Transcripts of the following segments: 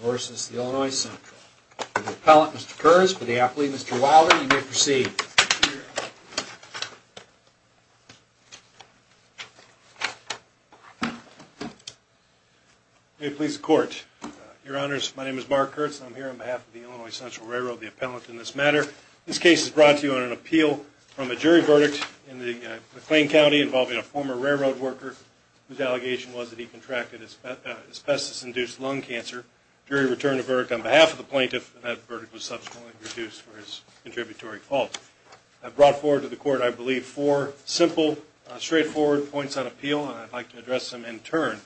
versus the Illinois Central. The appellant, Mr. Kurtz, for the athlete, Mr. Wilder, you may proceed. May it please the Court. Your Honors, my name is Mark Kurtz, and I'm here on behalf of the Illinois Central Railroad, the appellant in this matter. This case is brought to you on an appeal from a jury verdict in McLean County involving a former railroad worker whose allegation was that he contracted asbestos-induced lung cancer. The jury returned a verdict on behalf of the plaintiff, and that verdict was subsequently reduced for his contributory fault. I've brought forward to the Court, I believe, four simple, straightforward points on appeal, and I'd like to address them in turn.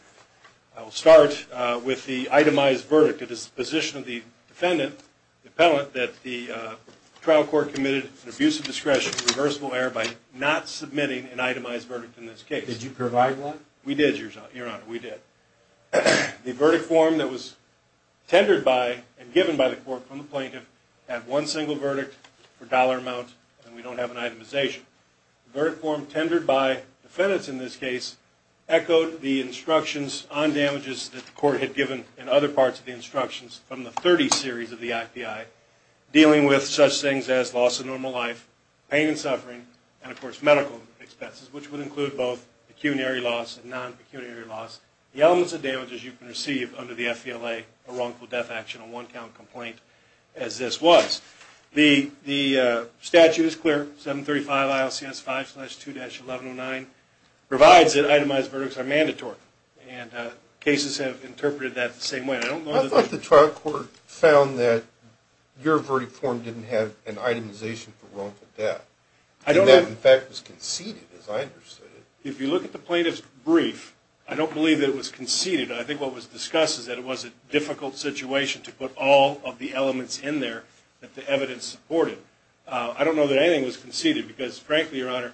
I will start with the itemized verdict. It is the position of the defendant, the appellant, that the trial court committed an abuse of discretion and reversible error by not submitting an itemized verdict in this case. Did you provide one? We did, Your Honor. We did. The verdict form that was tendered by and given by the court from the plaintiff had one single verdict for dollar amount, and we don't have an itemization. The verdict form tendered by defendants in this case echoed the instructions on damages that the court had given in other parts of the instructions from the 30 series of the API dealing with such things as loss of normal life, pain and suffering, and of course medical expenses, which would include both pecuniary loss and non-pecuniary loss. The elements of damages you can receive under the FVLA are wrongful death action, a one-count complaint, as this was. The statute is clear, 735 ILCS 5-2-1109 provides that itemized verdicts are mandatory, and cases have interpreted that the same way. I thought the trial court found that your verdict form didn't have an itemization for wrongful death. I think that, in fact, was conceded, as I understood it. If you look at the plaintiff's brief, I don't believe that it was conceded. I think what was discussed is that it was a difficult situation to put all of the elements in there that the evidence supported. I don't know that anything was conceded because, frankly, Your Honor,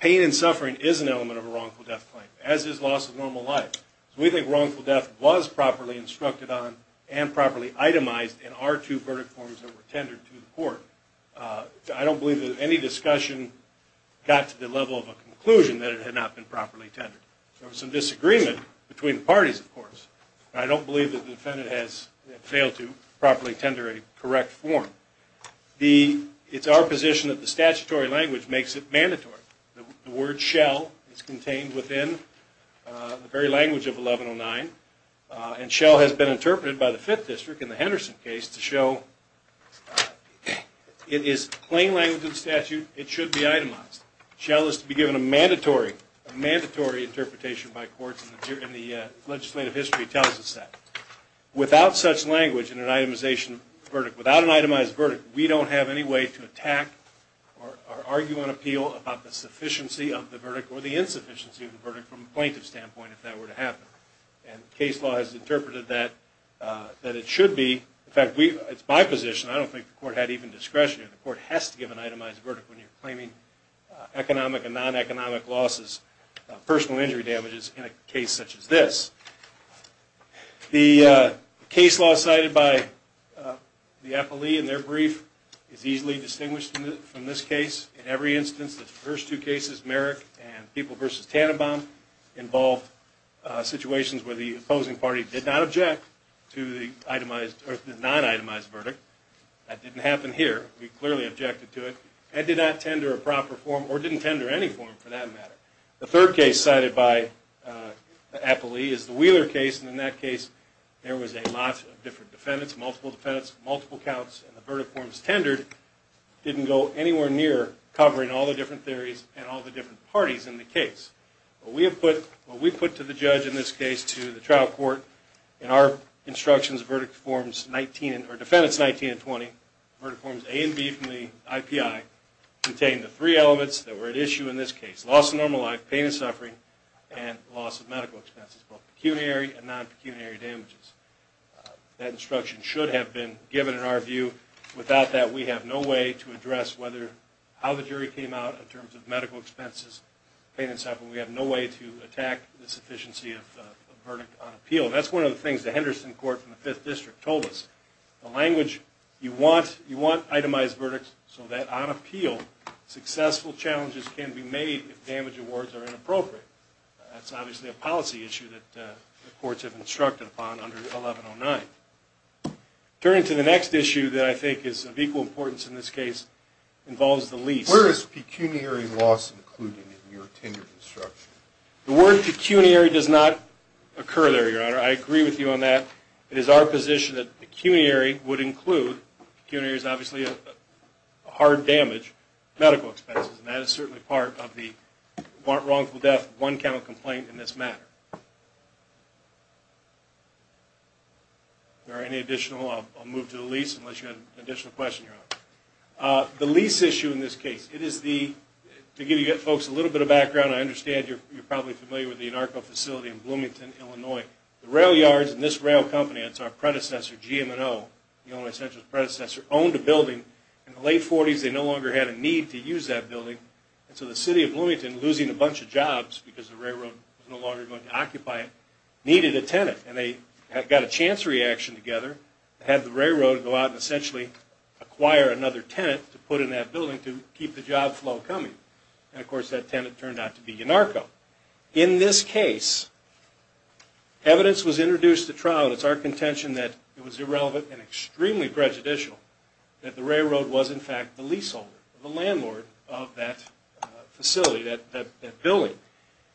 pain and suffering is an element of a wrongful death claim, as is loss of normal life. We think wrongful death was properly instructed on and properly itemized in our two verdict forms that were tendered to the court. I don't believe that any discussion got to the level of a conclusion that it had not been properly tendered. There was some disagreement between the parties, of course. I don't believe that the defendant has failed to properly tender a correct form. It's our position that the statutory language makes it mandatory. The word shell is contained within the very language of 1109, and shell has been interpreted by the Fifth District in the Henderson case to show it is plain language of the statute. It should be itemized. Shell is to be given a mandatory interpretation by courts, and the legislative history tells us that. Without such language in an itemization verdict, without an itemized verdict, we don't have any way to attack or argue and appeal about the sufficiency of the verdict or the insufficiency of the verdict from a plaintiff's standpoint if that were to happen. Case law has interpreted that it should be. In fact, it's my position. I don't think the court had even discretion. The court has to give an itemized verdict when you're claiming economic and non-economic losses, personal injury damages in a case such as this. The case law cited by the appellee in their brief is easily distinguished from this case. In every instance, the first two cases, Merrick and People v. Tannenbaum, involved situations where the opposing party did not object to the non-itemized verdict. That didn't happen here. We clearly objected to it and did not tender a proper form or didn't tender any form for that matter. The third case cited by the appellee is the Wheeler case, and in that case there was a lot of different defendants, multiple defendants, multiple counts, and the verdict forms tendered didn't go anywhere near covering all the different theories and all the different parties in the case. What we put to the judge in this case, to the trial court, in our instructions, Verdict Forms 19 or Defendants 19 and 20, Verdict Forms A and B from the IPI, contained the three elements that were at issue in this case, loss of normal life, pain and suffering, and loss of medical expenses, both pecuniary and non-pecuniary damages. That instruction should have been given in our view. Without that, we have no way to address how the jury came out in terms of medical expenses, pain and suffering. We have no way to attack the sufficiency of a verdict on appeal. That's one of the things the Henderson Court from the Fifth District told us. The language, you want itemized verdicts so that on appeal, successful challenges can be made if damage awards are inappropriate. That's obviously a policy issue that the courts have instructed upon under 1109. Turning to the next issue that I think is of equal importance in this case, involves the lease. Where is pecuniary loss included in your tenured instruction? The word pecuniary does not occur there, Your Honor. I agree with you on that. It is our position that pecuniary would include, pecuniary is obviously a hard damage, medical expenses, and that is certainly part of the wrongful death, one count of complaint in this matter. If there are any additional, I'll move to the lease unless you have an additional question, Your Honor. The lease issue in this case, it is the, to give you folks a little bit of background, I understand you're probably familiar with the Anarco facility in Bloomington, Illinois. The rail yards and this rail company, it's our predecessor, GM&O, the Illinois Central's predecessor, owned a building. In the late 40s, they no longer had a need to use that building, and so the city of Bloomington, losing a bunch of jobs because the railroad was no longer going to occupy it, needed a tenant, and they got a chance reaction together, had the railroad go out and essentially acquire another tenant to put in that building to keep the job flow coming. And of course, that tenant turned out to be Anarco. In this case, evidence was introduced at trial, and it's our contention that it was irrelevant and extremely prejudicial that the railroad was in fact the leaseholder, the landlord of that facility, that building.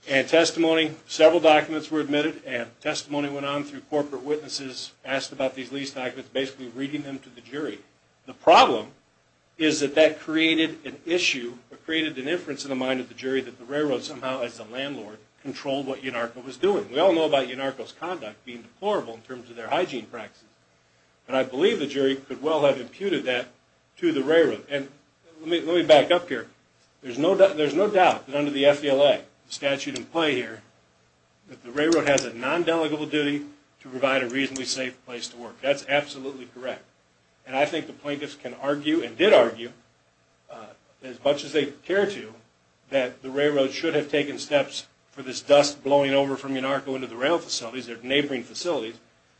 And testimony, several documents were admitted, and testimony went on through corporate witnesses, asked about these lease documents, basically reading them to the jury. The problem is that that created an issue, or created an inference in the mind of the jury, that the railroad somehow, as the landlord, controlled what Anarco was doing. We all know about Anarco's conduct being deplorable in terms of their hygiene practices, and I believe the jury could well have imputed that to the railroad. And let me back up here. There's no doubt that under the FDLA, the statute in play here, that the railroad has a non-delegable duty to provide a reasonably safe place to work. That's absolutely correct. And I think the plaintiffs can argue, and did argue, as much as they care to, that the railroad should have taken steps for this dust blowing over from Anarco into the rail facilities, their neighboring facilities,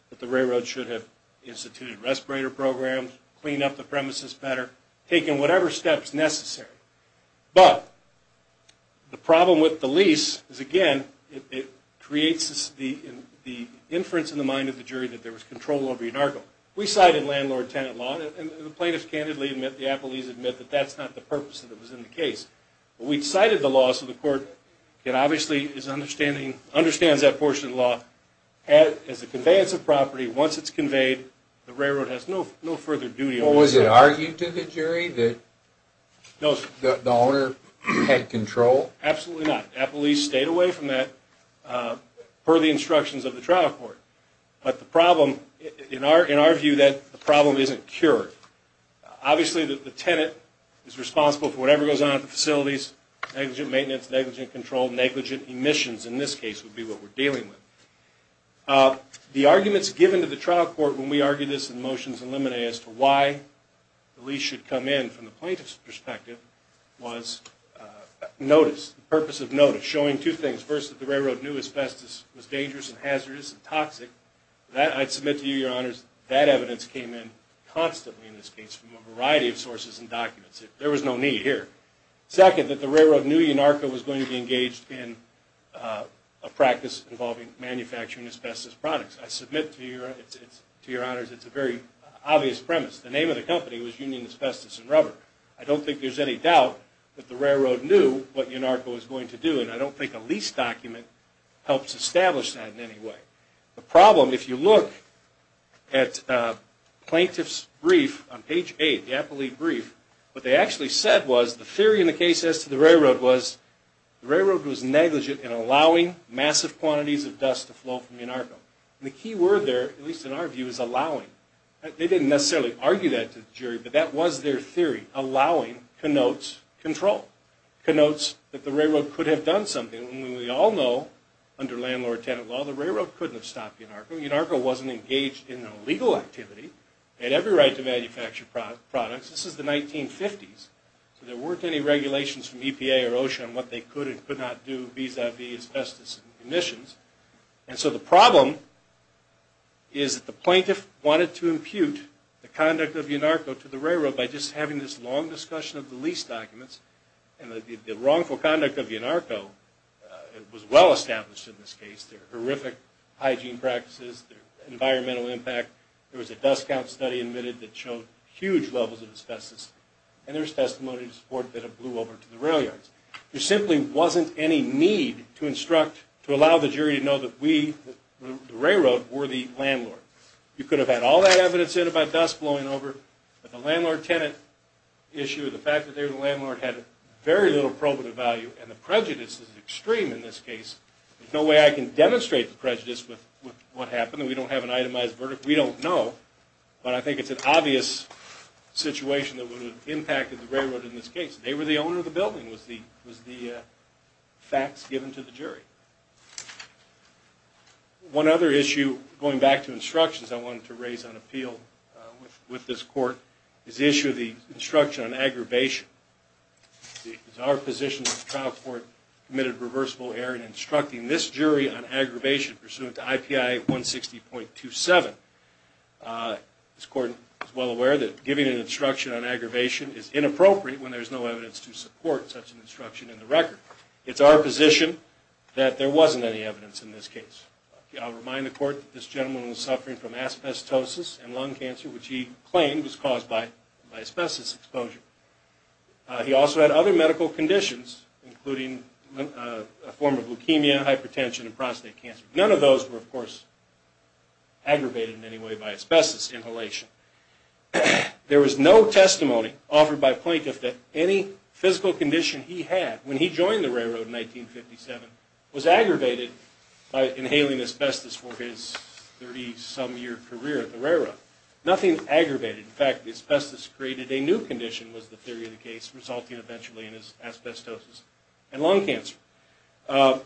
that the railroad should have instituted respirator programs, cleaned up the premises better, taken whatever steps necessary. But the problem with the lease is, again, it creates the inference in the mind of the jury that there was control over Anarco. We cited landlord-tenant law, and the plaintiffs candidly admit, the appellees admit, but we cited the law so the court can obviously understand that portion of the law. As a conveyance of property, once it's conveyed, the railroad has no further duty. Well, was it argued to the jury that the owner had control? Absolutely not. Appellees stayed away from that per the instructions of the trial court. But the problem, in our view, that the problem isn't cured. Obviously, the tenant is responsible for whatever goes on at the facilities. Negligent maintenance, negligent control, negligent emissions, in this case, would be what we're dealing with. The arguments given to the trial court when we argued this in motions and limine as to why the lease should come in from the plaintiff's perspective was notice, the purpose of notice, showing two things. First, that the railroad knew asbestos was dangerous and hazardous and toxic. I submit to you, your honors, that evidence came in constantly in this case from a variety of sources and documents. There was no need here. Second, that the railroad knew YNARCO was going to be engaged in a practice involving manufacturing asbestos products. I submit to your honors, it's a very obvious premise. The name of the company was Union Asbestos and Rubber. I don't think there's any doubt that the railroad knew what YNARCO was going to do, and I don't think a lease document helps establish that in any way. The problem, if you look at plaintiff's brief on page 8, the appellee brief, what they actually said was, the theory in the case as to the railroad was, the railroad was negligent in allowing massive quantities of dust to flow from YNARCO. The key word there, at least in our view, is allowing. They didn't necessarily argue that to the jury, but that was their theory, allowing connotes control, connotes that the railroad could have done something. We all know, under landlord-tenant law, the railroad couldn't have stopped YNARCO. YNARCO wasn't engaged in illegal activity. It had every right to manufacture products. This is the 1950s, so there weren't any regulations from EPA or OSHA on what they could and could not do vis-a-vis asbestos emissions. And so the problem is that the plaintiff wanted to impute the conduct of YNARCO to the railroad by just having this long discussion of the lease documents and the wrongful conduct of YNARCO was well established in this case. Their horrific hygiene practices, their environmental impact, there was a dust count study admitted that showed huge levels of asbestos and there was testimony to support that it blew over to the rail yards. There simply wasn't any need to instruct, to allow the jury to know that we, the railroad, were the landlord. You could have had all that evidence in about dust blowing over, but the landlord-tenant issue, the fact that they were the landlord, had very little probative value and the prejudice is extreme in this case. There's no way I can demonstrate the prejudice with what happened. We don't have an itemized verdict. We don't know, but I think it's an obvious situation that would have impacted the railroad in this case. They were the owner of the building, was the facts given to the jury. One other issue, going back to instructions I wanted to raise on appeal with this court, is the issue of the instruction on aggravation. It's our position that the trial court committed reversible error in instructing this jury on aggravation pursuant to IPI 160.27. This court is well aware that giving an instruction on aggravation is inappropriate when there's no evidence to support such an instruction in the record. It's our position that there wasn't any evidence in this case. I'll remind the court that this gentleman was suffering from asbestosis and lung cancer, which he claimed was caused by asbestos exposure. He also had other medical conditions, including a form of leukemia, hypertension, and prostate cancer. None of those were, of course, aggravated in any way by asbestos inhalation. There was no testimony offered by plaintiff that any physical condition he had when he joined the railroad in 1957 was aggravated by inhaling asbestos for his 30-some year career at the railroad. Nothing aggravated. In fact, the asbestos created a new condition, was the theory of the case, resulting eventually in his asbestosis and lung cancer.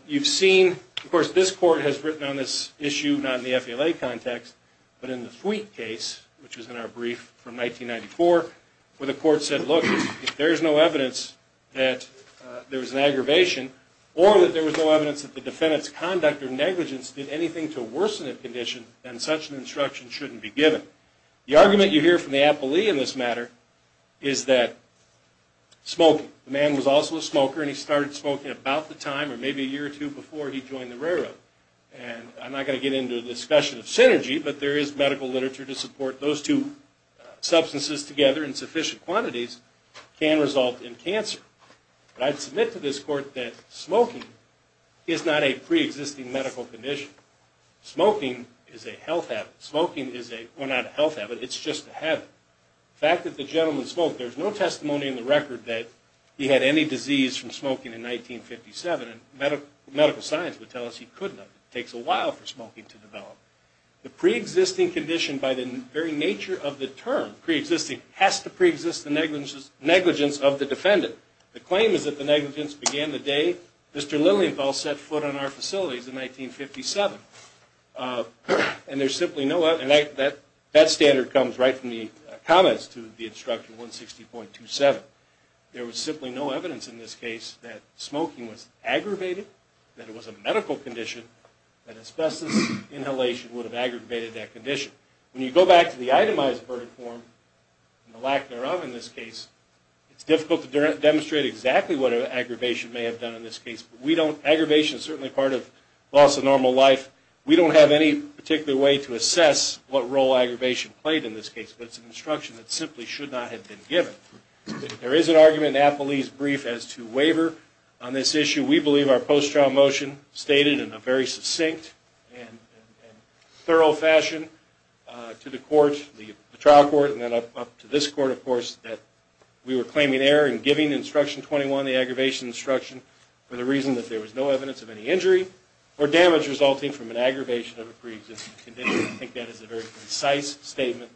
You've seen, of course, this court has written on this issue, not in the FALA context, but in the Fweet case, which was in our brief from 1994, where the court said, look, if there's no evidence that there was an aggravation or that there was no evidence that the defendant's conduct or negligence did anything to worsen the condition, then such an instruction shouldn't be given. The argument you hear from the appellee in this matter is that smoking. The man was also a smoker, and he started smoking about the time, or maybe a year or two before he joined the railroad. I'm not going to get into the discussion of synergy, but there is medical literature to support those two substances together in sufficient quantities can result in cancer. But I'd submit to this court that smoking is not a preexisting medical condition. Smoking is a health habit. Smoking is a, well, not a health habit, it's just a habit. The fact that the gentleman smoked, there's no testimony in the record that he had any disease from smoking in 1957, and medical science would tell us he couldn't have. It takes a while for smoking to develop. The preexisting condition by the very nature of the term, preexisting, has to preexist the negligence of the defendant. The claim is that the negligence began the day Mr. Lilienfeld set foot on our facilities in 1957. And there's simply no evidence, and that standard comes right from the comments to the instruction 160.27. There was simply no evidence in this case that smoking was aggravated, that it was a medical condition, that asbestos inhalation would have aggravated that condition. When you go back to the itemized verdict form, and the lack thereof in this case, it's difficult to demonstrate exactly what an aggravation may have done in this case. But we don't, aggravation is certainly part of loss of normal life. We don't have any particular way to assess what role aggravation played in this case, but it's an instruction that simply should not have been given. There is an argument in Apolli's brief as to waiver on this issue. We believe our post-trial motion stated in a very succinct and thorough fashion to the trial court, and then up to this court, of course, that we were claiming error in giving instruction 21, the aggravation instruction, for the reason that there was no evidence of any injury or damage resulting from an aggravation of a condition. I think that is a very concise statement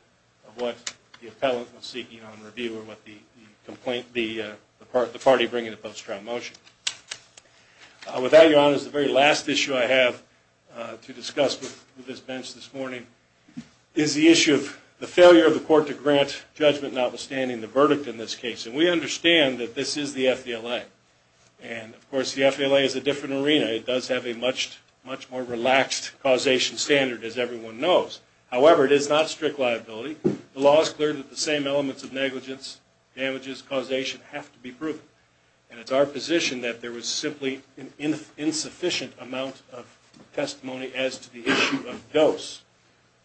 of what the appellant was seeking on review or what the party bringing a post-trial motion. With that, Your Honors, the very last issue I have to discuss with this bench this morning is the issue of the failure of the court to grant judgment, notwithstanding the verdict in this case. And we understand that this is the FDLA. And, of course, the FDLA is a different arena. It does have a much more relaxed causation standard, as everyone knows. However, it is not strict liability. The law is clear that the same elements of negligence, damages, causation have to be proven. And it's our position that there was simply an insufficient amount of testimony as to the issue of dose.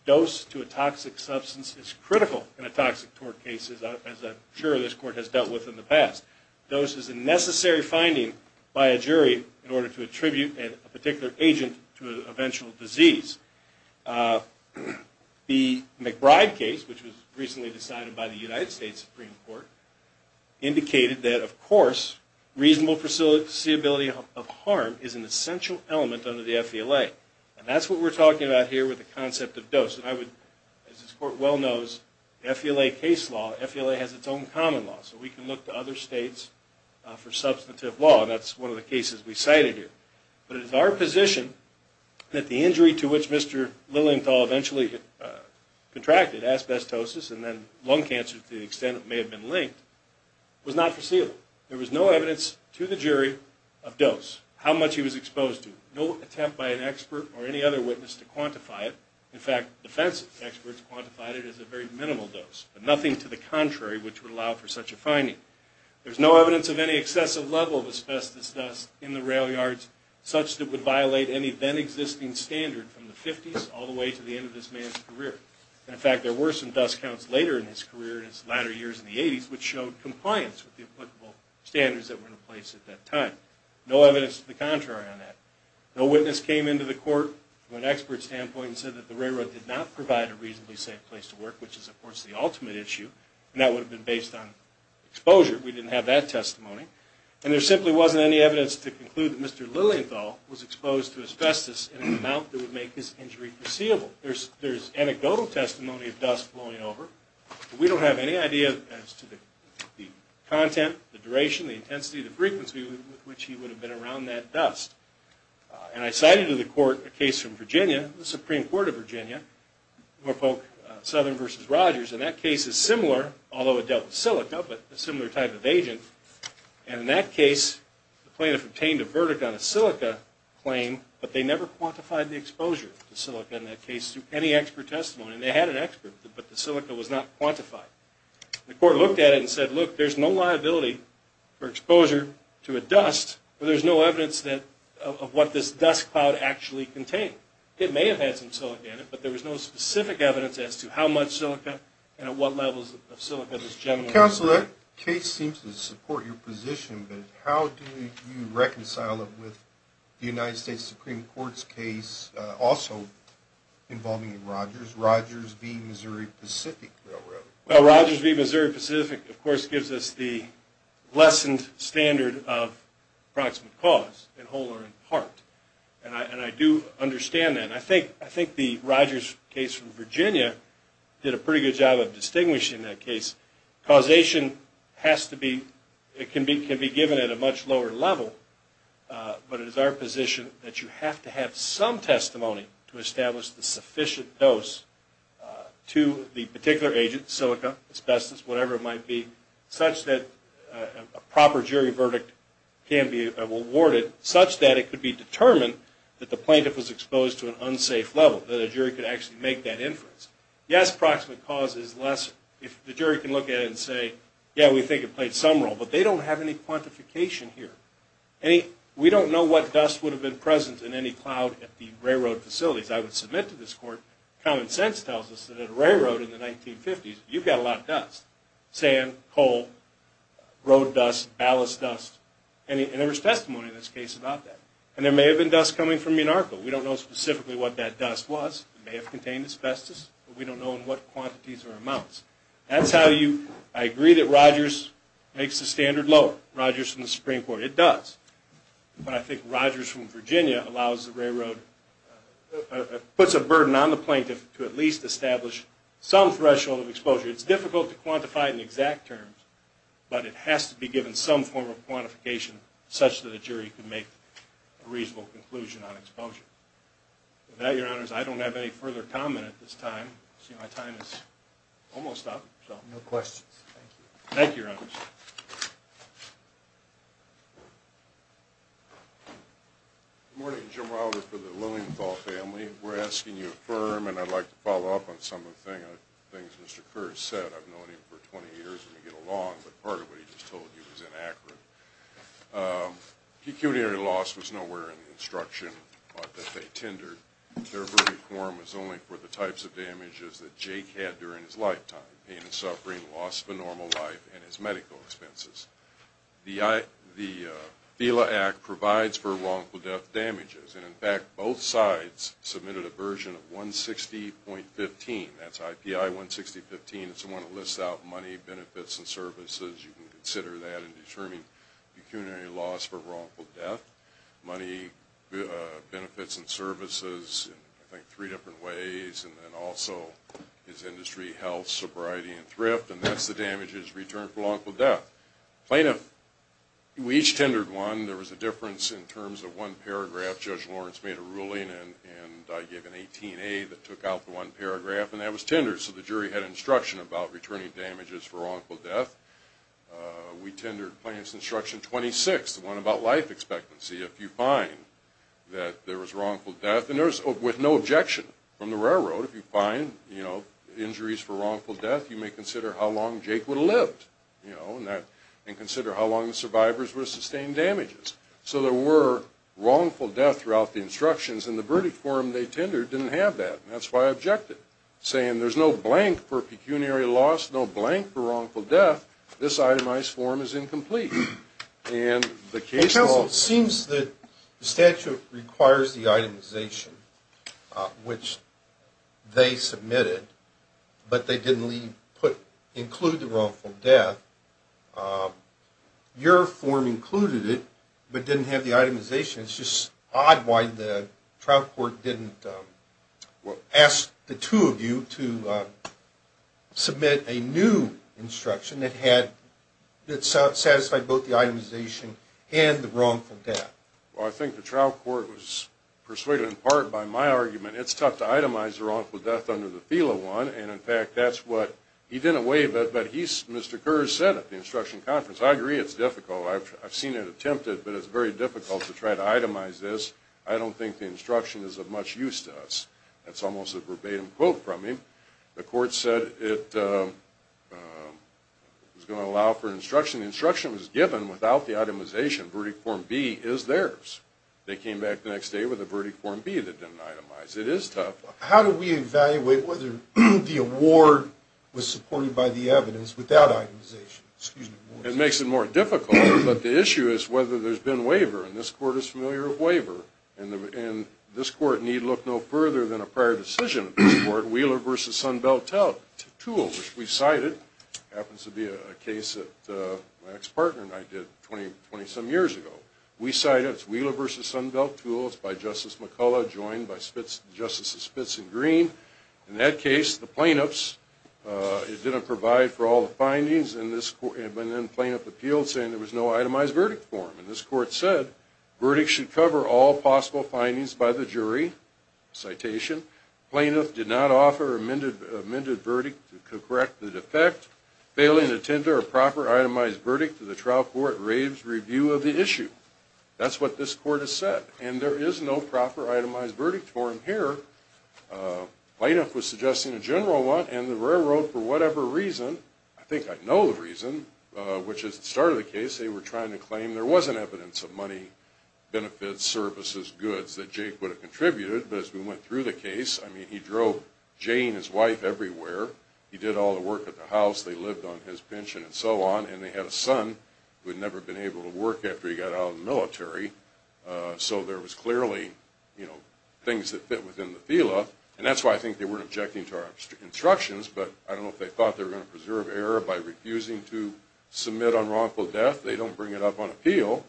Dose to a toxic substance is critical in a toxic tort case, as I'm sure this court has dealt with in the past. Dose is a necessary finding by a jury in order to attribute a particular agent to an eventual disease. The McBride case, which was recently decided by the United States Supreme Court, indicated that, of course, reasonable foreseeability of harm is an essential element under the FDLA. And that's what we're talking about here with the concept of dose. And I would, as this court well knows, FDLA case law, FDLA has its own common law. So we can look to other states for substantive law. And that's one of the cases we cited here. But it is our position that the injury to which Mr. Lilienthal eventually contracted, asbestosis and then lung cancer to the extent it may have been linked, was not foreseeable. There was no evidence to the jury of dose, how much he was exposed to, no attempt by an expert or any other witness to quantify it. In fact, defense experts quantified it as a very minimal dose, but nothing to the contrary which would allow for such a finding. There's no evidence of any excessive level of asbestos dust in the rail yards such that would violate any then existing standard from the 50s all the way to the end of this man's career. In fact, there were some dust counts later in his career in his latter years in the 80s which showed compliance with the applicable standards that were in place at that time. No evidence to the contrary on that. No witness came into the court from an expert standpoint and said that the railroad did not provide a reasonably safe place to work, which is of course the ultimate issue, and that would have been based on exposure. We didn't have that testimony. And there simply wasn't any evidence to conclude that Mr. Lilienthal was exposed to asbestos in an amount that would make his injury foreseeable. There's anecdotal testimony of dust flowing over, but we don't have any idea as to the content, the duration, the intensity, the frequency with which he would have been around that dust. And I cited to the court a case from Virginia, the Supreme Court of Virginia, Norfolk Southern v. Rogers, and that case is similar, although it dealt with silica, but a similar type of agent. And in that case, the plaintiff obtained a verdict on a silica claim, but they never quantified the exposure to silica in that case through any expert testimony. They had an expert, but the silica was not quantified. The court looked at it and said, look, there's no liability for exposure to a dust where there's no evidence of what this dust cloud actually contained. It may have had some silica in it, but there was no specific evidence as to how much silica and at what levels of silica this generally was. Counsel, that case seems to support your position, but how do you reconcile it with the United States Supreme Court's case also involving Rogers, Rogers v. Missouri Pacific Railroad? Well, Rogers v. Missouri Pacific, of course, gives us the lessened standard of approximate cause, in whole or in part. And I do understand that. And I think the Rogers case from Virginia did a pretty good job of distinguishing that case. Causation has to be, it can be given at a much lower level, but it is our position that you have to have some testimony to establish the sufficient dose to the particular agent, silica, asbestos, whatever it might be, such that a proper jury verdict can be awarded, such that it could be determined that the plaintiff was exposed to an unsafe level, that a jury could actually make that inference. Yes, approximate cause is less, if the jury can look at it and say, yeah, we think it played some role, but they don't have any quantification here. We don't know what dust would have been present in any cloud at the railroad facilities. I would submit to this court, common sense tells us that at a railroad in the 1950s, you've got a lot of dust, sand, coal, road dust, ballast dust, and there was testimony in this case about that. And there may have been dust coming from Minarko. We don't know specifically what that dust was. It may have contained asbestos, but we don't know in what quantities or amounts. That's how you, I agree that Rogers makes the standard lower. Rogers from the Supreme Court, it does. But I think Rogers from Virginia allows the railroad, It's difficult to quantify in exact terms, but it has to be given some form of quantification such that a jury can make a reasonable conclusion on exposure. With that, Your Honors, I don't have any further comment at this time. I see my time is almost up. No questions. Thank you. Thank you, Your Honors. Good morning. Jim Wilder for the Lilienthal family. We're asking you to affirm, and I'd like to follow up on some of the things Mr. Kerr has said. I've known him for 20 years when we get along, but part of what he just told you was inaccurate. Pecuniary loss was nowhere in the instruction that they tendered. Their very form was only for the types of damages that Jake had during his lifetime, pain and suffering, loss of a normal life, and his medical expenses. The FELA Act provides for wrongful death damages, and, in fact, both sides submitted a version of 160.15. That's IPI 160.15. It's the one that lists out money, benefits, and services. You can consider that in determining pecuniary loss for wrongful death, money, benefits, and services in, I think, three different ways, and then also his industry, health, sobriety, and thrift, and that's the damages returned for wrongful death. Plaintiff, we each tendered one. There was a difference in terms of one paragraph. Judge Lawrence made a ruling, and I gave an 18A that took out the one paragraph, and that was tendered, so the jury had instruction about returning damages for wrongful death. We tendered Plaintiff's instruction 26, the one about life expectancy. If you find that there was wrongful death, and there was no objection from the railroad. If you find injuries for wrongful death, you may consider how long Jake would have lived and consider how long the survivors would have sustained damages. So there were wrongful death throughout the instructions, and the verdict form they tendered didn't have that, and that's why I objected, saying there's no blank for pecuniary loss, no blank for wrongful death. This itemized form is incomplete. Counsel, it seems that the statute requires the itemization, which they submitted, but they didn't include the wrongful death. Your form included it, but didn't have the itemization. It's just odd why the trial court didn't ask the two of you to submit a new instruction that satisfied both the itemization and the wrongful death. Well, I think the trial court was persuaded in part by my argument, it's tough to itemize the wrongful death under the feel of one, and in fact that's what he didn't weigh, but Mr. Kurz said at the instruction conference, I agree it's difficult. I've seen it attempted, but it's very difficult to try to itemize this. I don't think the instruction is of much use to us. That's almost a verbatim quote from him. The court said it was going to allow for instruction. The instruction was given without the itemization. Verdict form B is theirs. They came back the next day with a verdict form B that didn't itemize. It is tough. How do we evaluate whether the award was supported by the evidence without itemization? It makes it more difficult, but the issue is whether there's been waiver, and this court is familiar with waiver, and this court need look no further than a prior decision of this court, Wheeler v. Sunbeltel, two of which we cited. It happens to be a case that my ex-partner and I did 20-some years ago. We cited Wheeler v. Sunbeltel. It's by Justice McCullough joined by Justices Spitz and Green. In that case, the plaintiffs didn't provide for all the findings, and then plaintiff appealed saying there was no itemized verdict form, and this court said verdict should cover all possible findings by the jury, citation. Plaintiff did not offer amended verdict to correct the defect. Failing to tender a proper itemized verdict to the trial court raves review of the issue. That's what this court has said, and there is no proper itemized verdict form here. Plaintiff was suggesting a general one, and the railroad, for whatever reason, I think I know the reason, which is at the start of the case, they were trying to claim there wasn't evidence of money, benefits, services, goods, that Jake would have contributed, but as we went through the case, I mean, he drove Jay and his wife everywhere. He did all the work at the house. They lived on his pension and so on, and they had a son who had never been able to work after he got out of the military, so there was clearly, you know, things that fit within the feel of, and that's why I think they weren't objecting to our instructions, but I don't know if they thought they were going to preserve error by refusing to submit on wrongful death. They don't bring it up on appeal,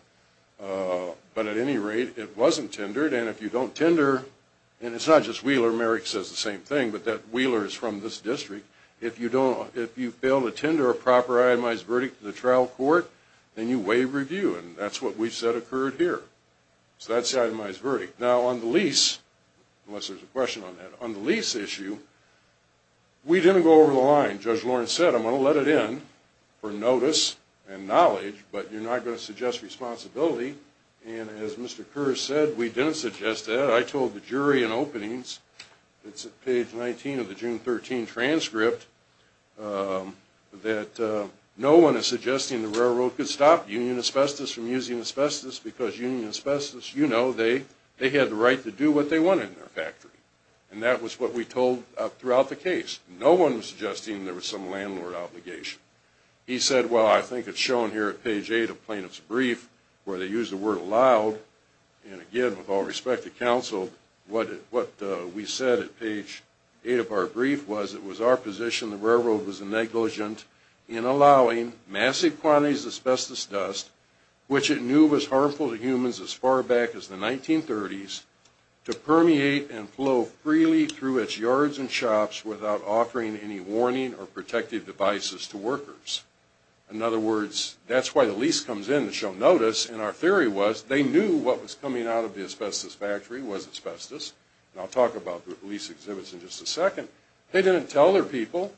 but at any rate, it wasn't tendered, and if you don't tender, and it's not just Wheeler. Mr. Merrick says the same thing, but Wheeler is from this district. If you fail to tender a proper itemized verdict to the trial court, then you waive review, and that's what we've said occurred here. So that's the itemized verdict. Now, on the lease, unless there's a question on that, on the lease issue, we didn't go over the line. Judge Lawrence said, I'm going to let it in for notice and knowledge, but you're not going to suggest responsibility, and as Mr. Kerr said, we didn't suggest that. I told the jury in openings, it's at page 19 of the June 13 transcript, that no one is suggesting the railroad could stop Union Asbestos from using asbestos because Union Asbestos, you know, they had the right to do what they wanted in their factory, and that was what we told throughout the case. No one was suggesting there was some landlord obligation. He said, well, I think it's shown here at page 8 of plaintiff's brief where they use the word allowed, and again, with all respect to counsel, what we said at page 8 of our brief was it was our position the railroad was negligent in allowing massive quantities of asbestos dust, which it knew was harmful to humans as far back as the 1930s, to permeate and flow freely through its yards and shops without offering any warning or protective devices to workers. In other words, that's why the lease comes in, it's shown notice, and our theory was they knew what was coming out of the asbestos factory was asbestos, and I'll talk about the lease exhibits in just a second. They didn't tell their people,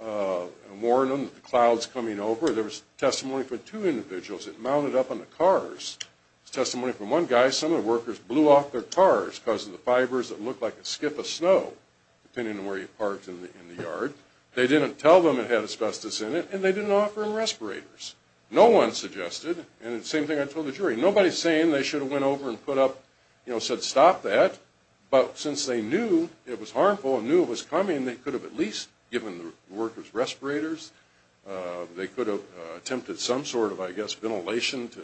warn them that the cloud's coming over. There was testimony from two individuals, it mounted up on the cars. There's testimony from one guy, some of the workers blew off their cars because of the fibers that looked like a skip of snow, depending on where you parked in the yard. They didn't tell them it had asbestos in it, and they didn't offer them respirators. No one suggested, and it's the same thing I told the jury. Nobody's saying they should have went over and put up, you know, said stop that. But since they knew it was harmful and knew it was coming, they could have at least given the workers respirators. They could have attempted some sort of, I guess, ventilation to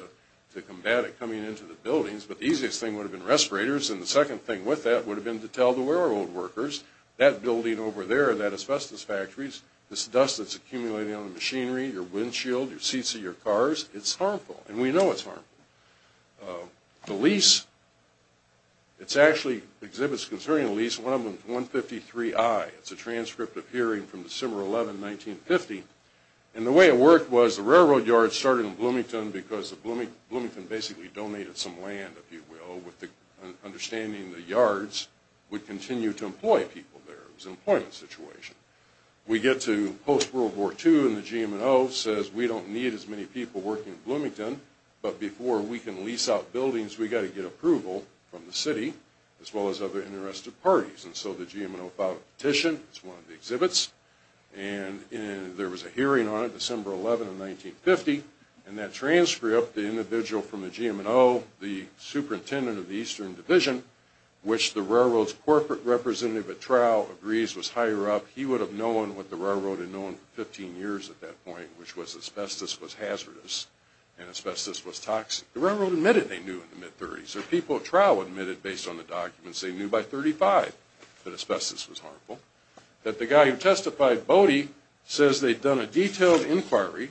combat it coming into the buildings. But the easiest thing would have been respirators, and the second thing with that would have been to tell the railroad workers, that building over there, that asbestos factory, this dust that's accumulating on the machinery, your windshield, your seats of your cars, it's harmful, and we know it's harmful. The lease, it's actually exhibits concerning a lease, one of them is 153I. It's a transcript appearing from December 11, 1950. And the way it worked was the railroad yard started in Bloomington because Bloomington basically donated some land, if you will, with the understanding the yards would continue to employ people there. It was an employment situation. We get to post-World War II, and the GM&O says, we don't need as many people working in Bloomington, but before we can lease out buildings, we've got to get approval from the city, as well as other interested parties. And so the GM&O filed a petition, it's one of the exhibits, and there was a hearing on it, December 11, 1950, and that transcript, the individual from the GM&O, the superintendent of the Eastern Division, which the railroad's corporate representative at Trow agrees was higher up, he would have known what the railroad had known for 15 years at that point, which was asbestos was hazardous and asbestos was toxic. The railroad admitted they knew in the mid-'30s, or people at Trow admitted, based on the documents, they knew by 35 that asbestos was harmful, that the guy who testified, Bodie, says they'd done a detailed inquiry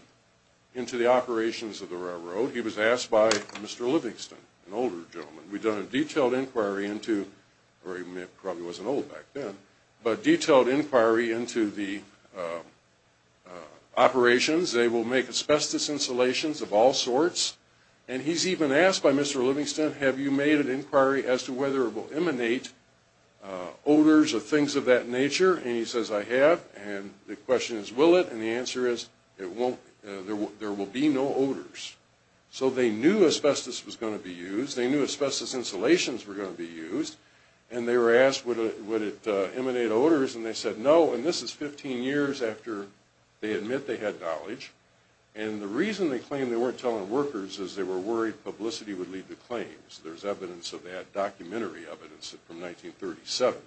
into the operations of the railroad. He was asked by Mr. Livingston, an older gentleman, we'd done a detailed inquiry into, or he probably wasn't old back then, but detailed inquiry into the operations. They will make asbestos insulations of all sorts. And he's even asked by Mr. Livingston, have you made an inquiry as to whether it will emanate odors or things of that nature? And he says, I have. And the question is, will it? And the answer is, there will be no odors. So they knew asbestos was going to be used. They knew asbestos insulations were going to be used. And they were asked, would it emanate odors? And they said, no. And this is 15 years after they admit they had knowledge. And the reason they claimed they weren't telling workers is they were worried publicity would lead to claims. There's evidence of that, documentary evidence from 1937,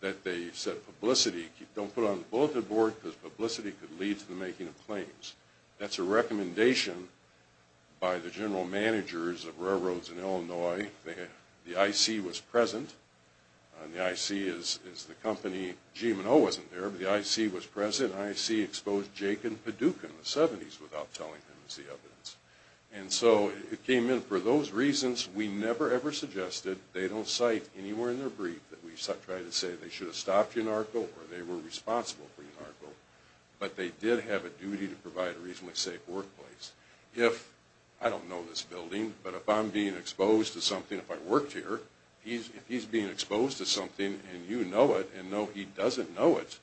that they said publicity, don't put it on the bulleted board because publicity could lead to the making of claims. That's a recommendation by the general managers of railroads in Illinois. The IC was present. The IC is the company, GMO wasn't there, but the IC was present. The IC exposed Jake and Paducah in the 70s without telling them, is the evidence. And so it came in for those reasons. We never, ever suggested. They don't cite anywhere in their brief that we try to say they should have stopped Enarco or they were responsible for Enarco. But they did have a duty to provide a reasonably safe workplace. If, I don't know this building, but if I'm being exposed to something, if I worked here, if he's being exposed to something and you know it and know he doesn't know it,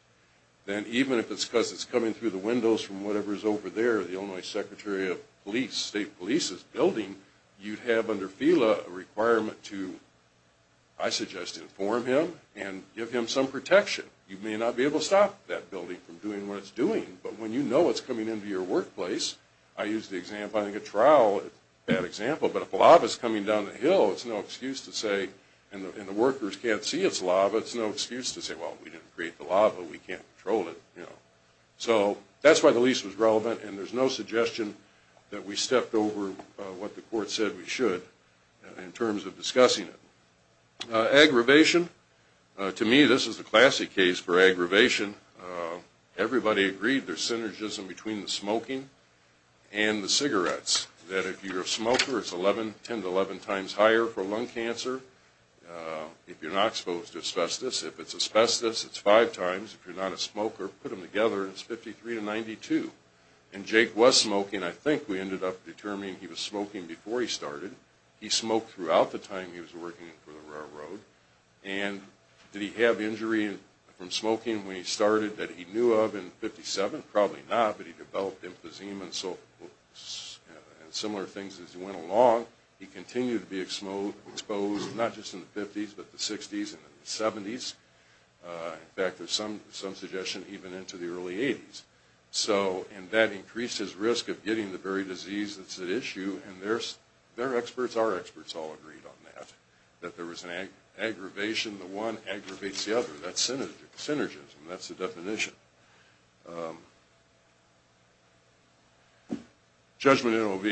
then even if it's because it's coming through the windows from whatever's over there, the Illinois Secretary of State Police's building, you'd have under FELA a requirement to, I suggest, inform him and give him some protection. You may not be able to stop that building from doing what it's doing, but when you know it's coming into your workplace, I used the example, I think a trowel is a bad example, but if lava's coming down the hill, it's no excuse to say, and the workers can't see it's lava, it's no excuse to say, well, we didn't create the lava, we can't control it, you know. So that's why the lease was relevant, and there's no suggestion that we stepped over what the court said we should in terms of discussing it. Aggravation. To me, this is a classic case for aggravation. Everybody agreed there's synergism between the smoking and the cigarettes, that if you're a smoker, it's 10 to 11 times higher for lung cancer. If you're not exposed to asbestos, if it's asbestos, it's five times. If you're not a smoker, put them together and it's 53 to 92. And Jake was smoking. I think we ended up determining he was smoking before he started. He smoked throughout the time he was working for the railroad. And did he have injury from smoking when he started that he knew of in 57? Probably not, but he developed emphysema and similar things as he went along. He continued to be exposed, not just in the 50s, but the 60s and the 70s. In fact, there's some suggestion even into the early 80s. And that increased his risk of getting the very disease that's at issue, and their experts, our experts, all agreed on that, that there was an aggravation. The one aggravates the other. That's synergism. That's the definition. Judgment in OV.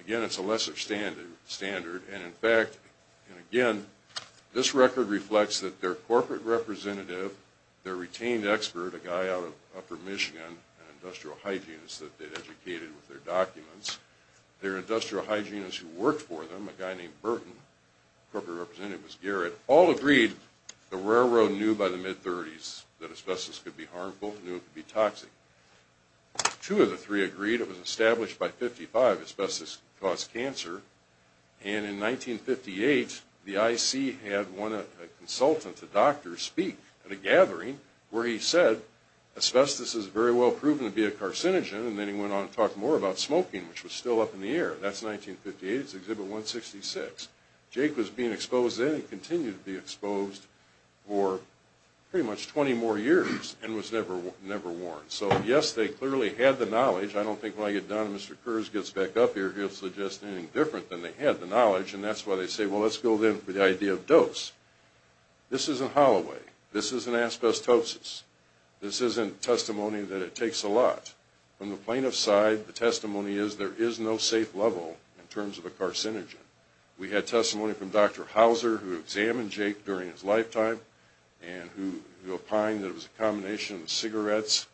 Again, it's a lesser standard. And in fact, and again, this record reflects that their corporate representative, their retained expert, a guy out of upper Michigan, an industrial hygienist that they'd educated with their documents, their industrial hygienist who worked for them, a guy named Burton, corporate representative was Garrett, all agreed the railroad knew by the mid-30s that asbestos could be harmful, knew it could be toxic. Two of the three agreed. It was established by 55 asbestos caused cancer. And in 1958, the IC had a consultant, a doctor, speak. At a gathering where he said asbestos is very well proven to be a carcinogen, and then he went on to talk more about smoking, which was still up in the air. That's 1958. It's Exhibit 166. Jake was being exposed then and continued to be exposed for pretty much 20 more years and was never warned. So yes, they clearly had the knowledge. I don't think when I get done and Mr. Kurz gets back up here, he'll suggest anything different than they had the knowledge, and that's why they say, well, let's go then for the idea of dose. This isn't Holloway. This isn't asbestosis. This isn't testimony that it takes a lot. From the plaintiff's side, the testimony is there is no safe level in terms of a carcinogen. We had testimony from Dr. Hauser who examined Jake during his lifetime and who opined that it was a combination of cigarettes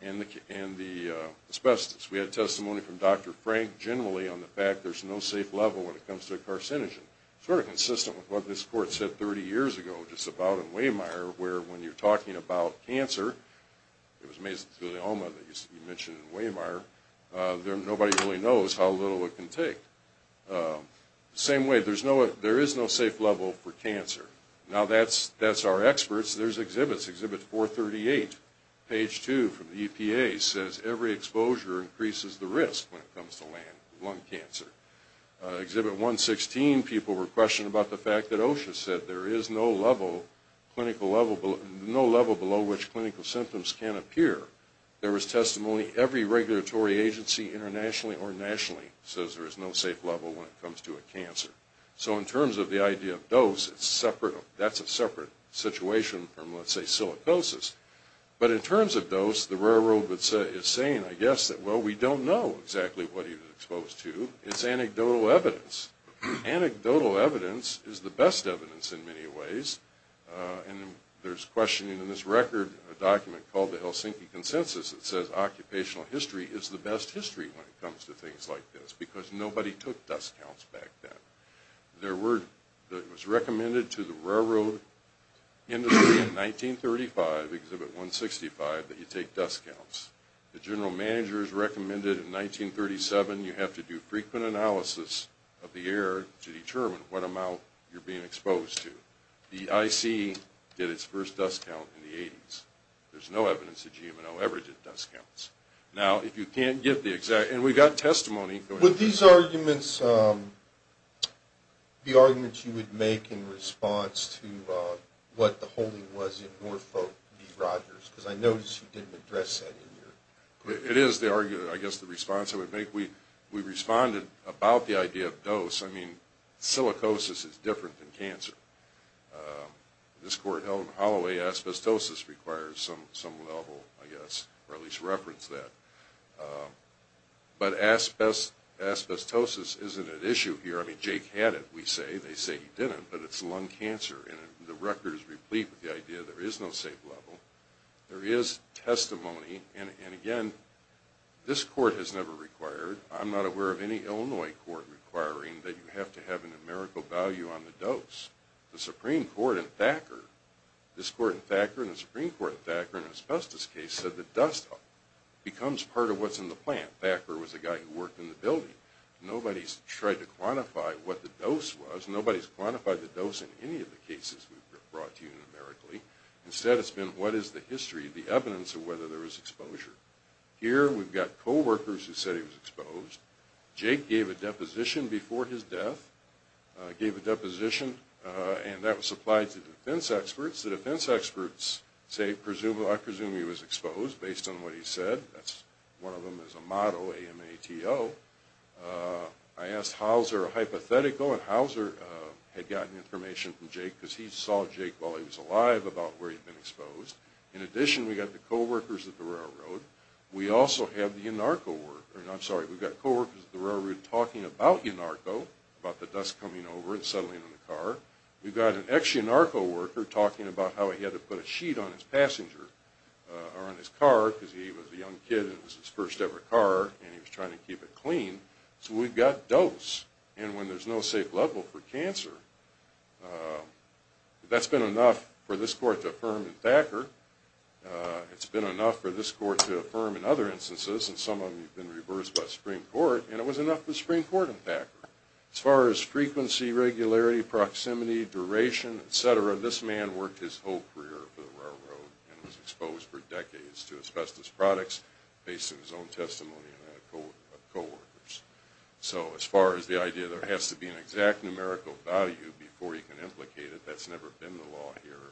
and the asbestos. We had testimony from Dr. Frank generally on the fact there's no safe level when it comes to a carcinogen. Sort of consistent with what this court said 30 years ago just about in Wehmeyer where when you're talking about cancer, it was mesothelioma that you mentioned in Wehmeyer, nobody really knows how little it can take. Same way, there is no safe level for cancer. Now that's our experts. There's exhibits. Exhibit 438, page 2 from the EPA, says every exposure increases the risk when it comes to lung cancer. Exhibit 116, people were questioning about the fact that OSHA said there is no level, no level below which clinical symptoms can appear. There was testimony every regulatory agency internationally or nationally says there is no safe level when it comes to a cancer. So in terms of the idea of dose, that's a separate situation from, let's say, silicosis. But in terms of dose, the railroad is saying, I guess, well, we don't know exactly what he was exposed to. It's anecdotal evidence. Anecdotal evidence is the best evidence in many ways. And there's questioning in this record, a document called the Helsinki Consensus, that says occupational history is the best history when it comes to things like this because nobody took dust counts back then. There were, it was recommended to the railroad industry in 1935, exhibit 165, that you take dust counts. The general manager's recommended in 1937 you have to do frequent analysis of the air to determine what amount you're being exposed to. The IC did its first dust count in the 80s. There's no evidence that GM&L ever did dust counts. Now, if you can't get the exact, and we've got testimony. Would these arguments be arguments you would make in response to what the holding was because I noticed you didn't address that. It is the argument, I guess, the response I would make. We responded about the idea of dose. I mean, silicosis is different than cancer. This court held Holloway asbestosis requires some level, I guess, or at least reference that. But asbestosis isn't an issue here. I mean, Jake had it, we say. They say he didn't, but it's lung cancer. And the record is replete with the idea there is no safe level. There is testimony. And again, this court has never required, I'm not aware of any Illinois court requiring that you have to have a numerical value on the dose. The Supreme Court in Thacker, this court in Thacker and the Supreme Court in Thacker in an asbestos case said that dust becomes part of what's in the plant. Thacker was the guy who worked in the building. Nobody's tried to quantify what the dose was. Nobody's quantified the dose in any of the cases we've brought to you numerically. Instead, it's been what is the history, the evidence of whether there was exposure. Here, we've got co-workers who said he was exposed. Jake gave a deposition before his death. Gave a deposition, and that was supplied to defense experts. The defense experts say, I presume he was exposed based on what he said. That's one of them is a model, A-M-A-T-O. I asked Hauser a hypothetical, and Hauser had gotten information from Jake because he saw Jake while he was alive about where he'd been exposed. In addition, we've got the co-workers at the railroad. We also have the YNARCO worker. I'm sorry, we've got co-workers at the railroad talking about YNARCO, about the dust coming over and settling in the car. We've got an ex-YNARCO worker talking about how he had to put a sheet on his passenger, or on his car, because he was a young kid and it was his first ever car, and he was trying to keep it clean. So we've got dose, and when there's no safe level for cancer, that's been enough for this court to affirm in Thacker. It's been enough for this court to affirm in other instances, and some of them have been reversed by Supreme Court, and it was enough for Supreme Court in Thacker. As far as frequency, regularity, proximity, duration, et cetera, this man worked his whole career for the railroad and was exposed for decades to asbestos products, based on his own testimony and that of co-workers. So as far as the idea that there has to be an exact numerical value before you can implicate it, that's never been the law here.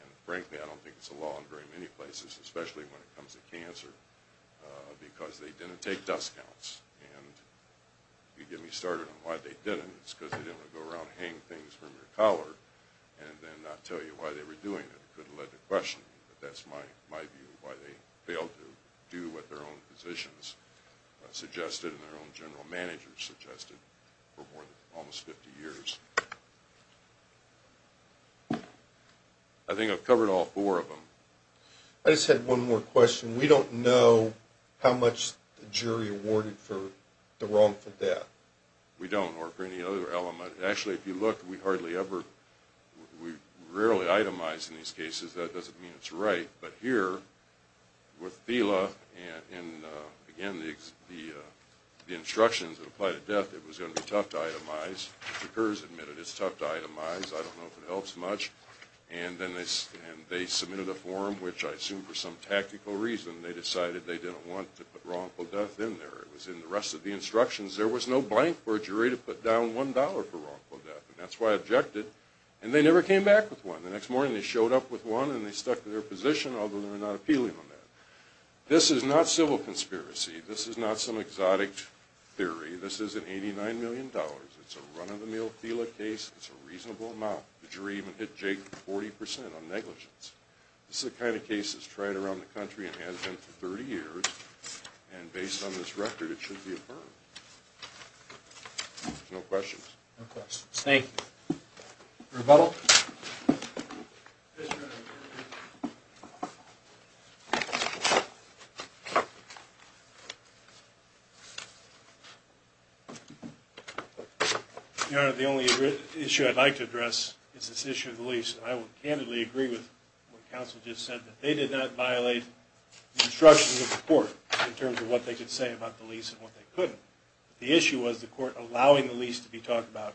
And frankly, I don't think it's the law in very many places, especially when it comes to cancer, because they didn't take dust counts. And if you get me started on why they didn't, it's because they didn't want to go around and hang things from your collar and then not tell you why they were doing it. It could have led to questioning, but that's my view, why they failed to do what their own physicians suggested and their own general managers suggested for almost 50 years. I think I've covered all four of them. I just had one more question. We don't know how much the jury awarded for the wrongful death. We don't, or for any other element. Actually, if you look, we rarely itemize in these cases. That doesn't mean it's right. But here, with Thela and, again, the instructions that apply to death, it was going to be tough to itemize. The jurors admitted it's tough to itemize. I don't know if it helps much. And they submitted a form, which I assume for some tactical reason they decided they didn't want to put wrongful death in there. It was in the rest of the instructions. There was no blank for a jury to put down $1 for wrongful death, and that's why I objected. And they never came back with one. The next morning they showed up with one, and they stuck to their position, although they were not appealing on that. This is not civil conspiracy. This is not some exotic theory. This is an $89 million. It's a run-of-the-mill Thela case. It's a reasonable amount. The jury even hit Jake 40% on negligence. This is the kind of case that's tried around the country and has been for 30 years, and based on this record it should be affirmed. No questions? No questions. Thank you. Rebuttal? Your Honor, the only issue I'd like to address is this issue of the lease, and I will candidly agree with what counsel just said, that they did not violate the instructions of the court in terms of what they could say about the lease and what they couldn't. The issue was the court allowing the lease to be talked about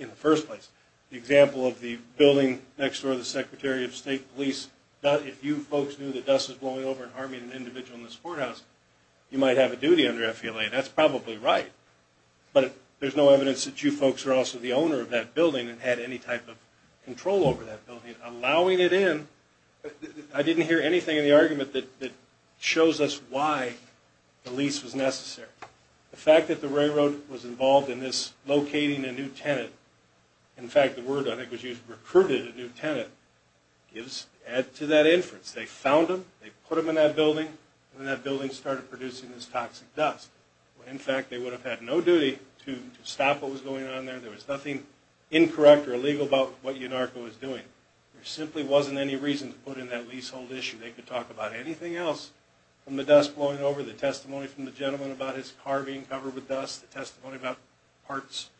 in the first place. The example of the building next door to the Secretary of State Police, if you folks knew that dust was blowing over and harming an individual in this courthouse, you might have a duty under FELA, and that's probably right. But there's no evidence that you folks are also the owner of that building and had any type of control over that building, and allowing it in, I didn't hear anything in the argument that shows us why the lease was necessary. The fact that the railroad was involved in this, locating a new tenant, in fact the word I think was used, recruited a new tenant, adds to that inference. They found him, they put him in that building, and that building started producing this toxic dust. In fact, they would have had no duty to stop what was going on there, there was nothing incorrect or illegal about what UNARCO was doing. There simply wasn't any reason to put in that leasehold issue. They could talk about anything else from the dust blowing over, the testimony from the gentleman about his car being covered with dust, the testimony about parts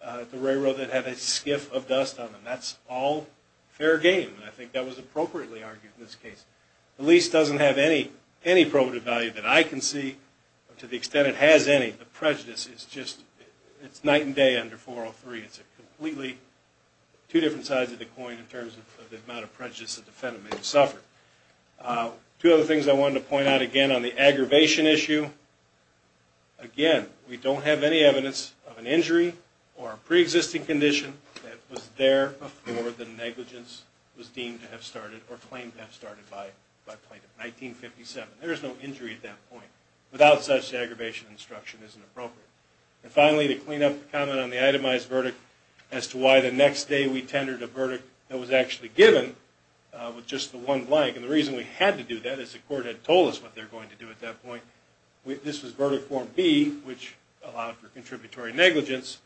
of the railroad that had a skiff of dust on them. That's all fair game, and I think that was appropriately argued in this case. The lease doesn't have any probative value that I can see, to the extent it has any. The amount of prejudice, it's night and day under 403, it's a completely two different sides of the coin in terms of the amount of prejudice the defendant may have suffered. Two other things I wanted to point out again on the aggravation issue. Again, we don't have any evidence of an injury or a pre-existing condition that was there before the negligence was deemed to have started or claimed to have started by plaintiff in 1957. There is no injury at that point. Without such, the aggravation instruction isn't appropriate. And finally, to clean up the comment on the itemized verdict as to why the next day we tendered a verdict that was actually given with just the one blank, and the reason we had to do that is the court had told us what they were going to do at that point. This was verdict form B, which allowed for contributory negligence.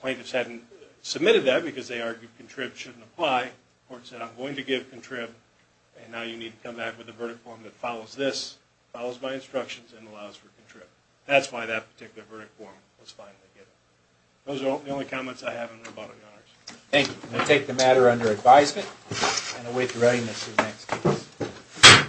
Plaintiffs hadn't submitted that because they argued contrib shouldn't apply. The court said, I'm going to give contrib, and now you need to come back with a verdict form that follows this, follows my instructions, and allows for contrib. That's why that particular verdict form was finally given. Those are the only comments I have in rebuttal, Your Honors. Thank you. We'll take the matter under advisement and await the readiness of the next case.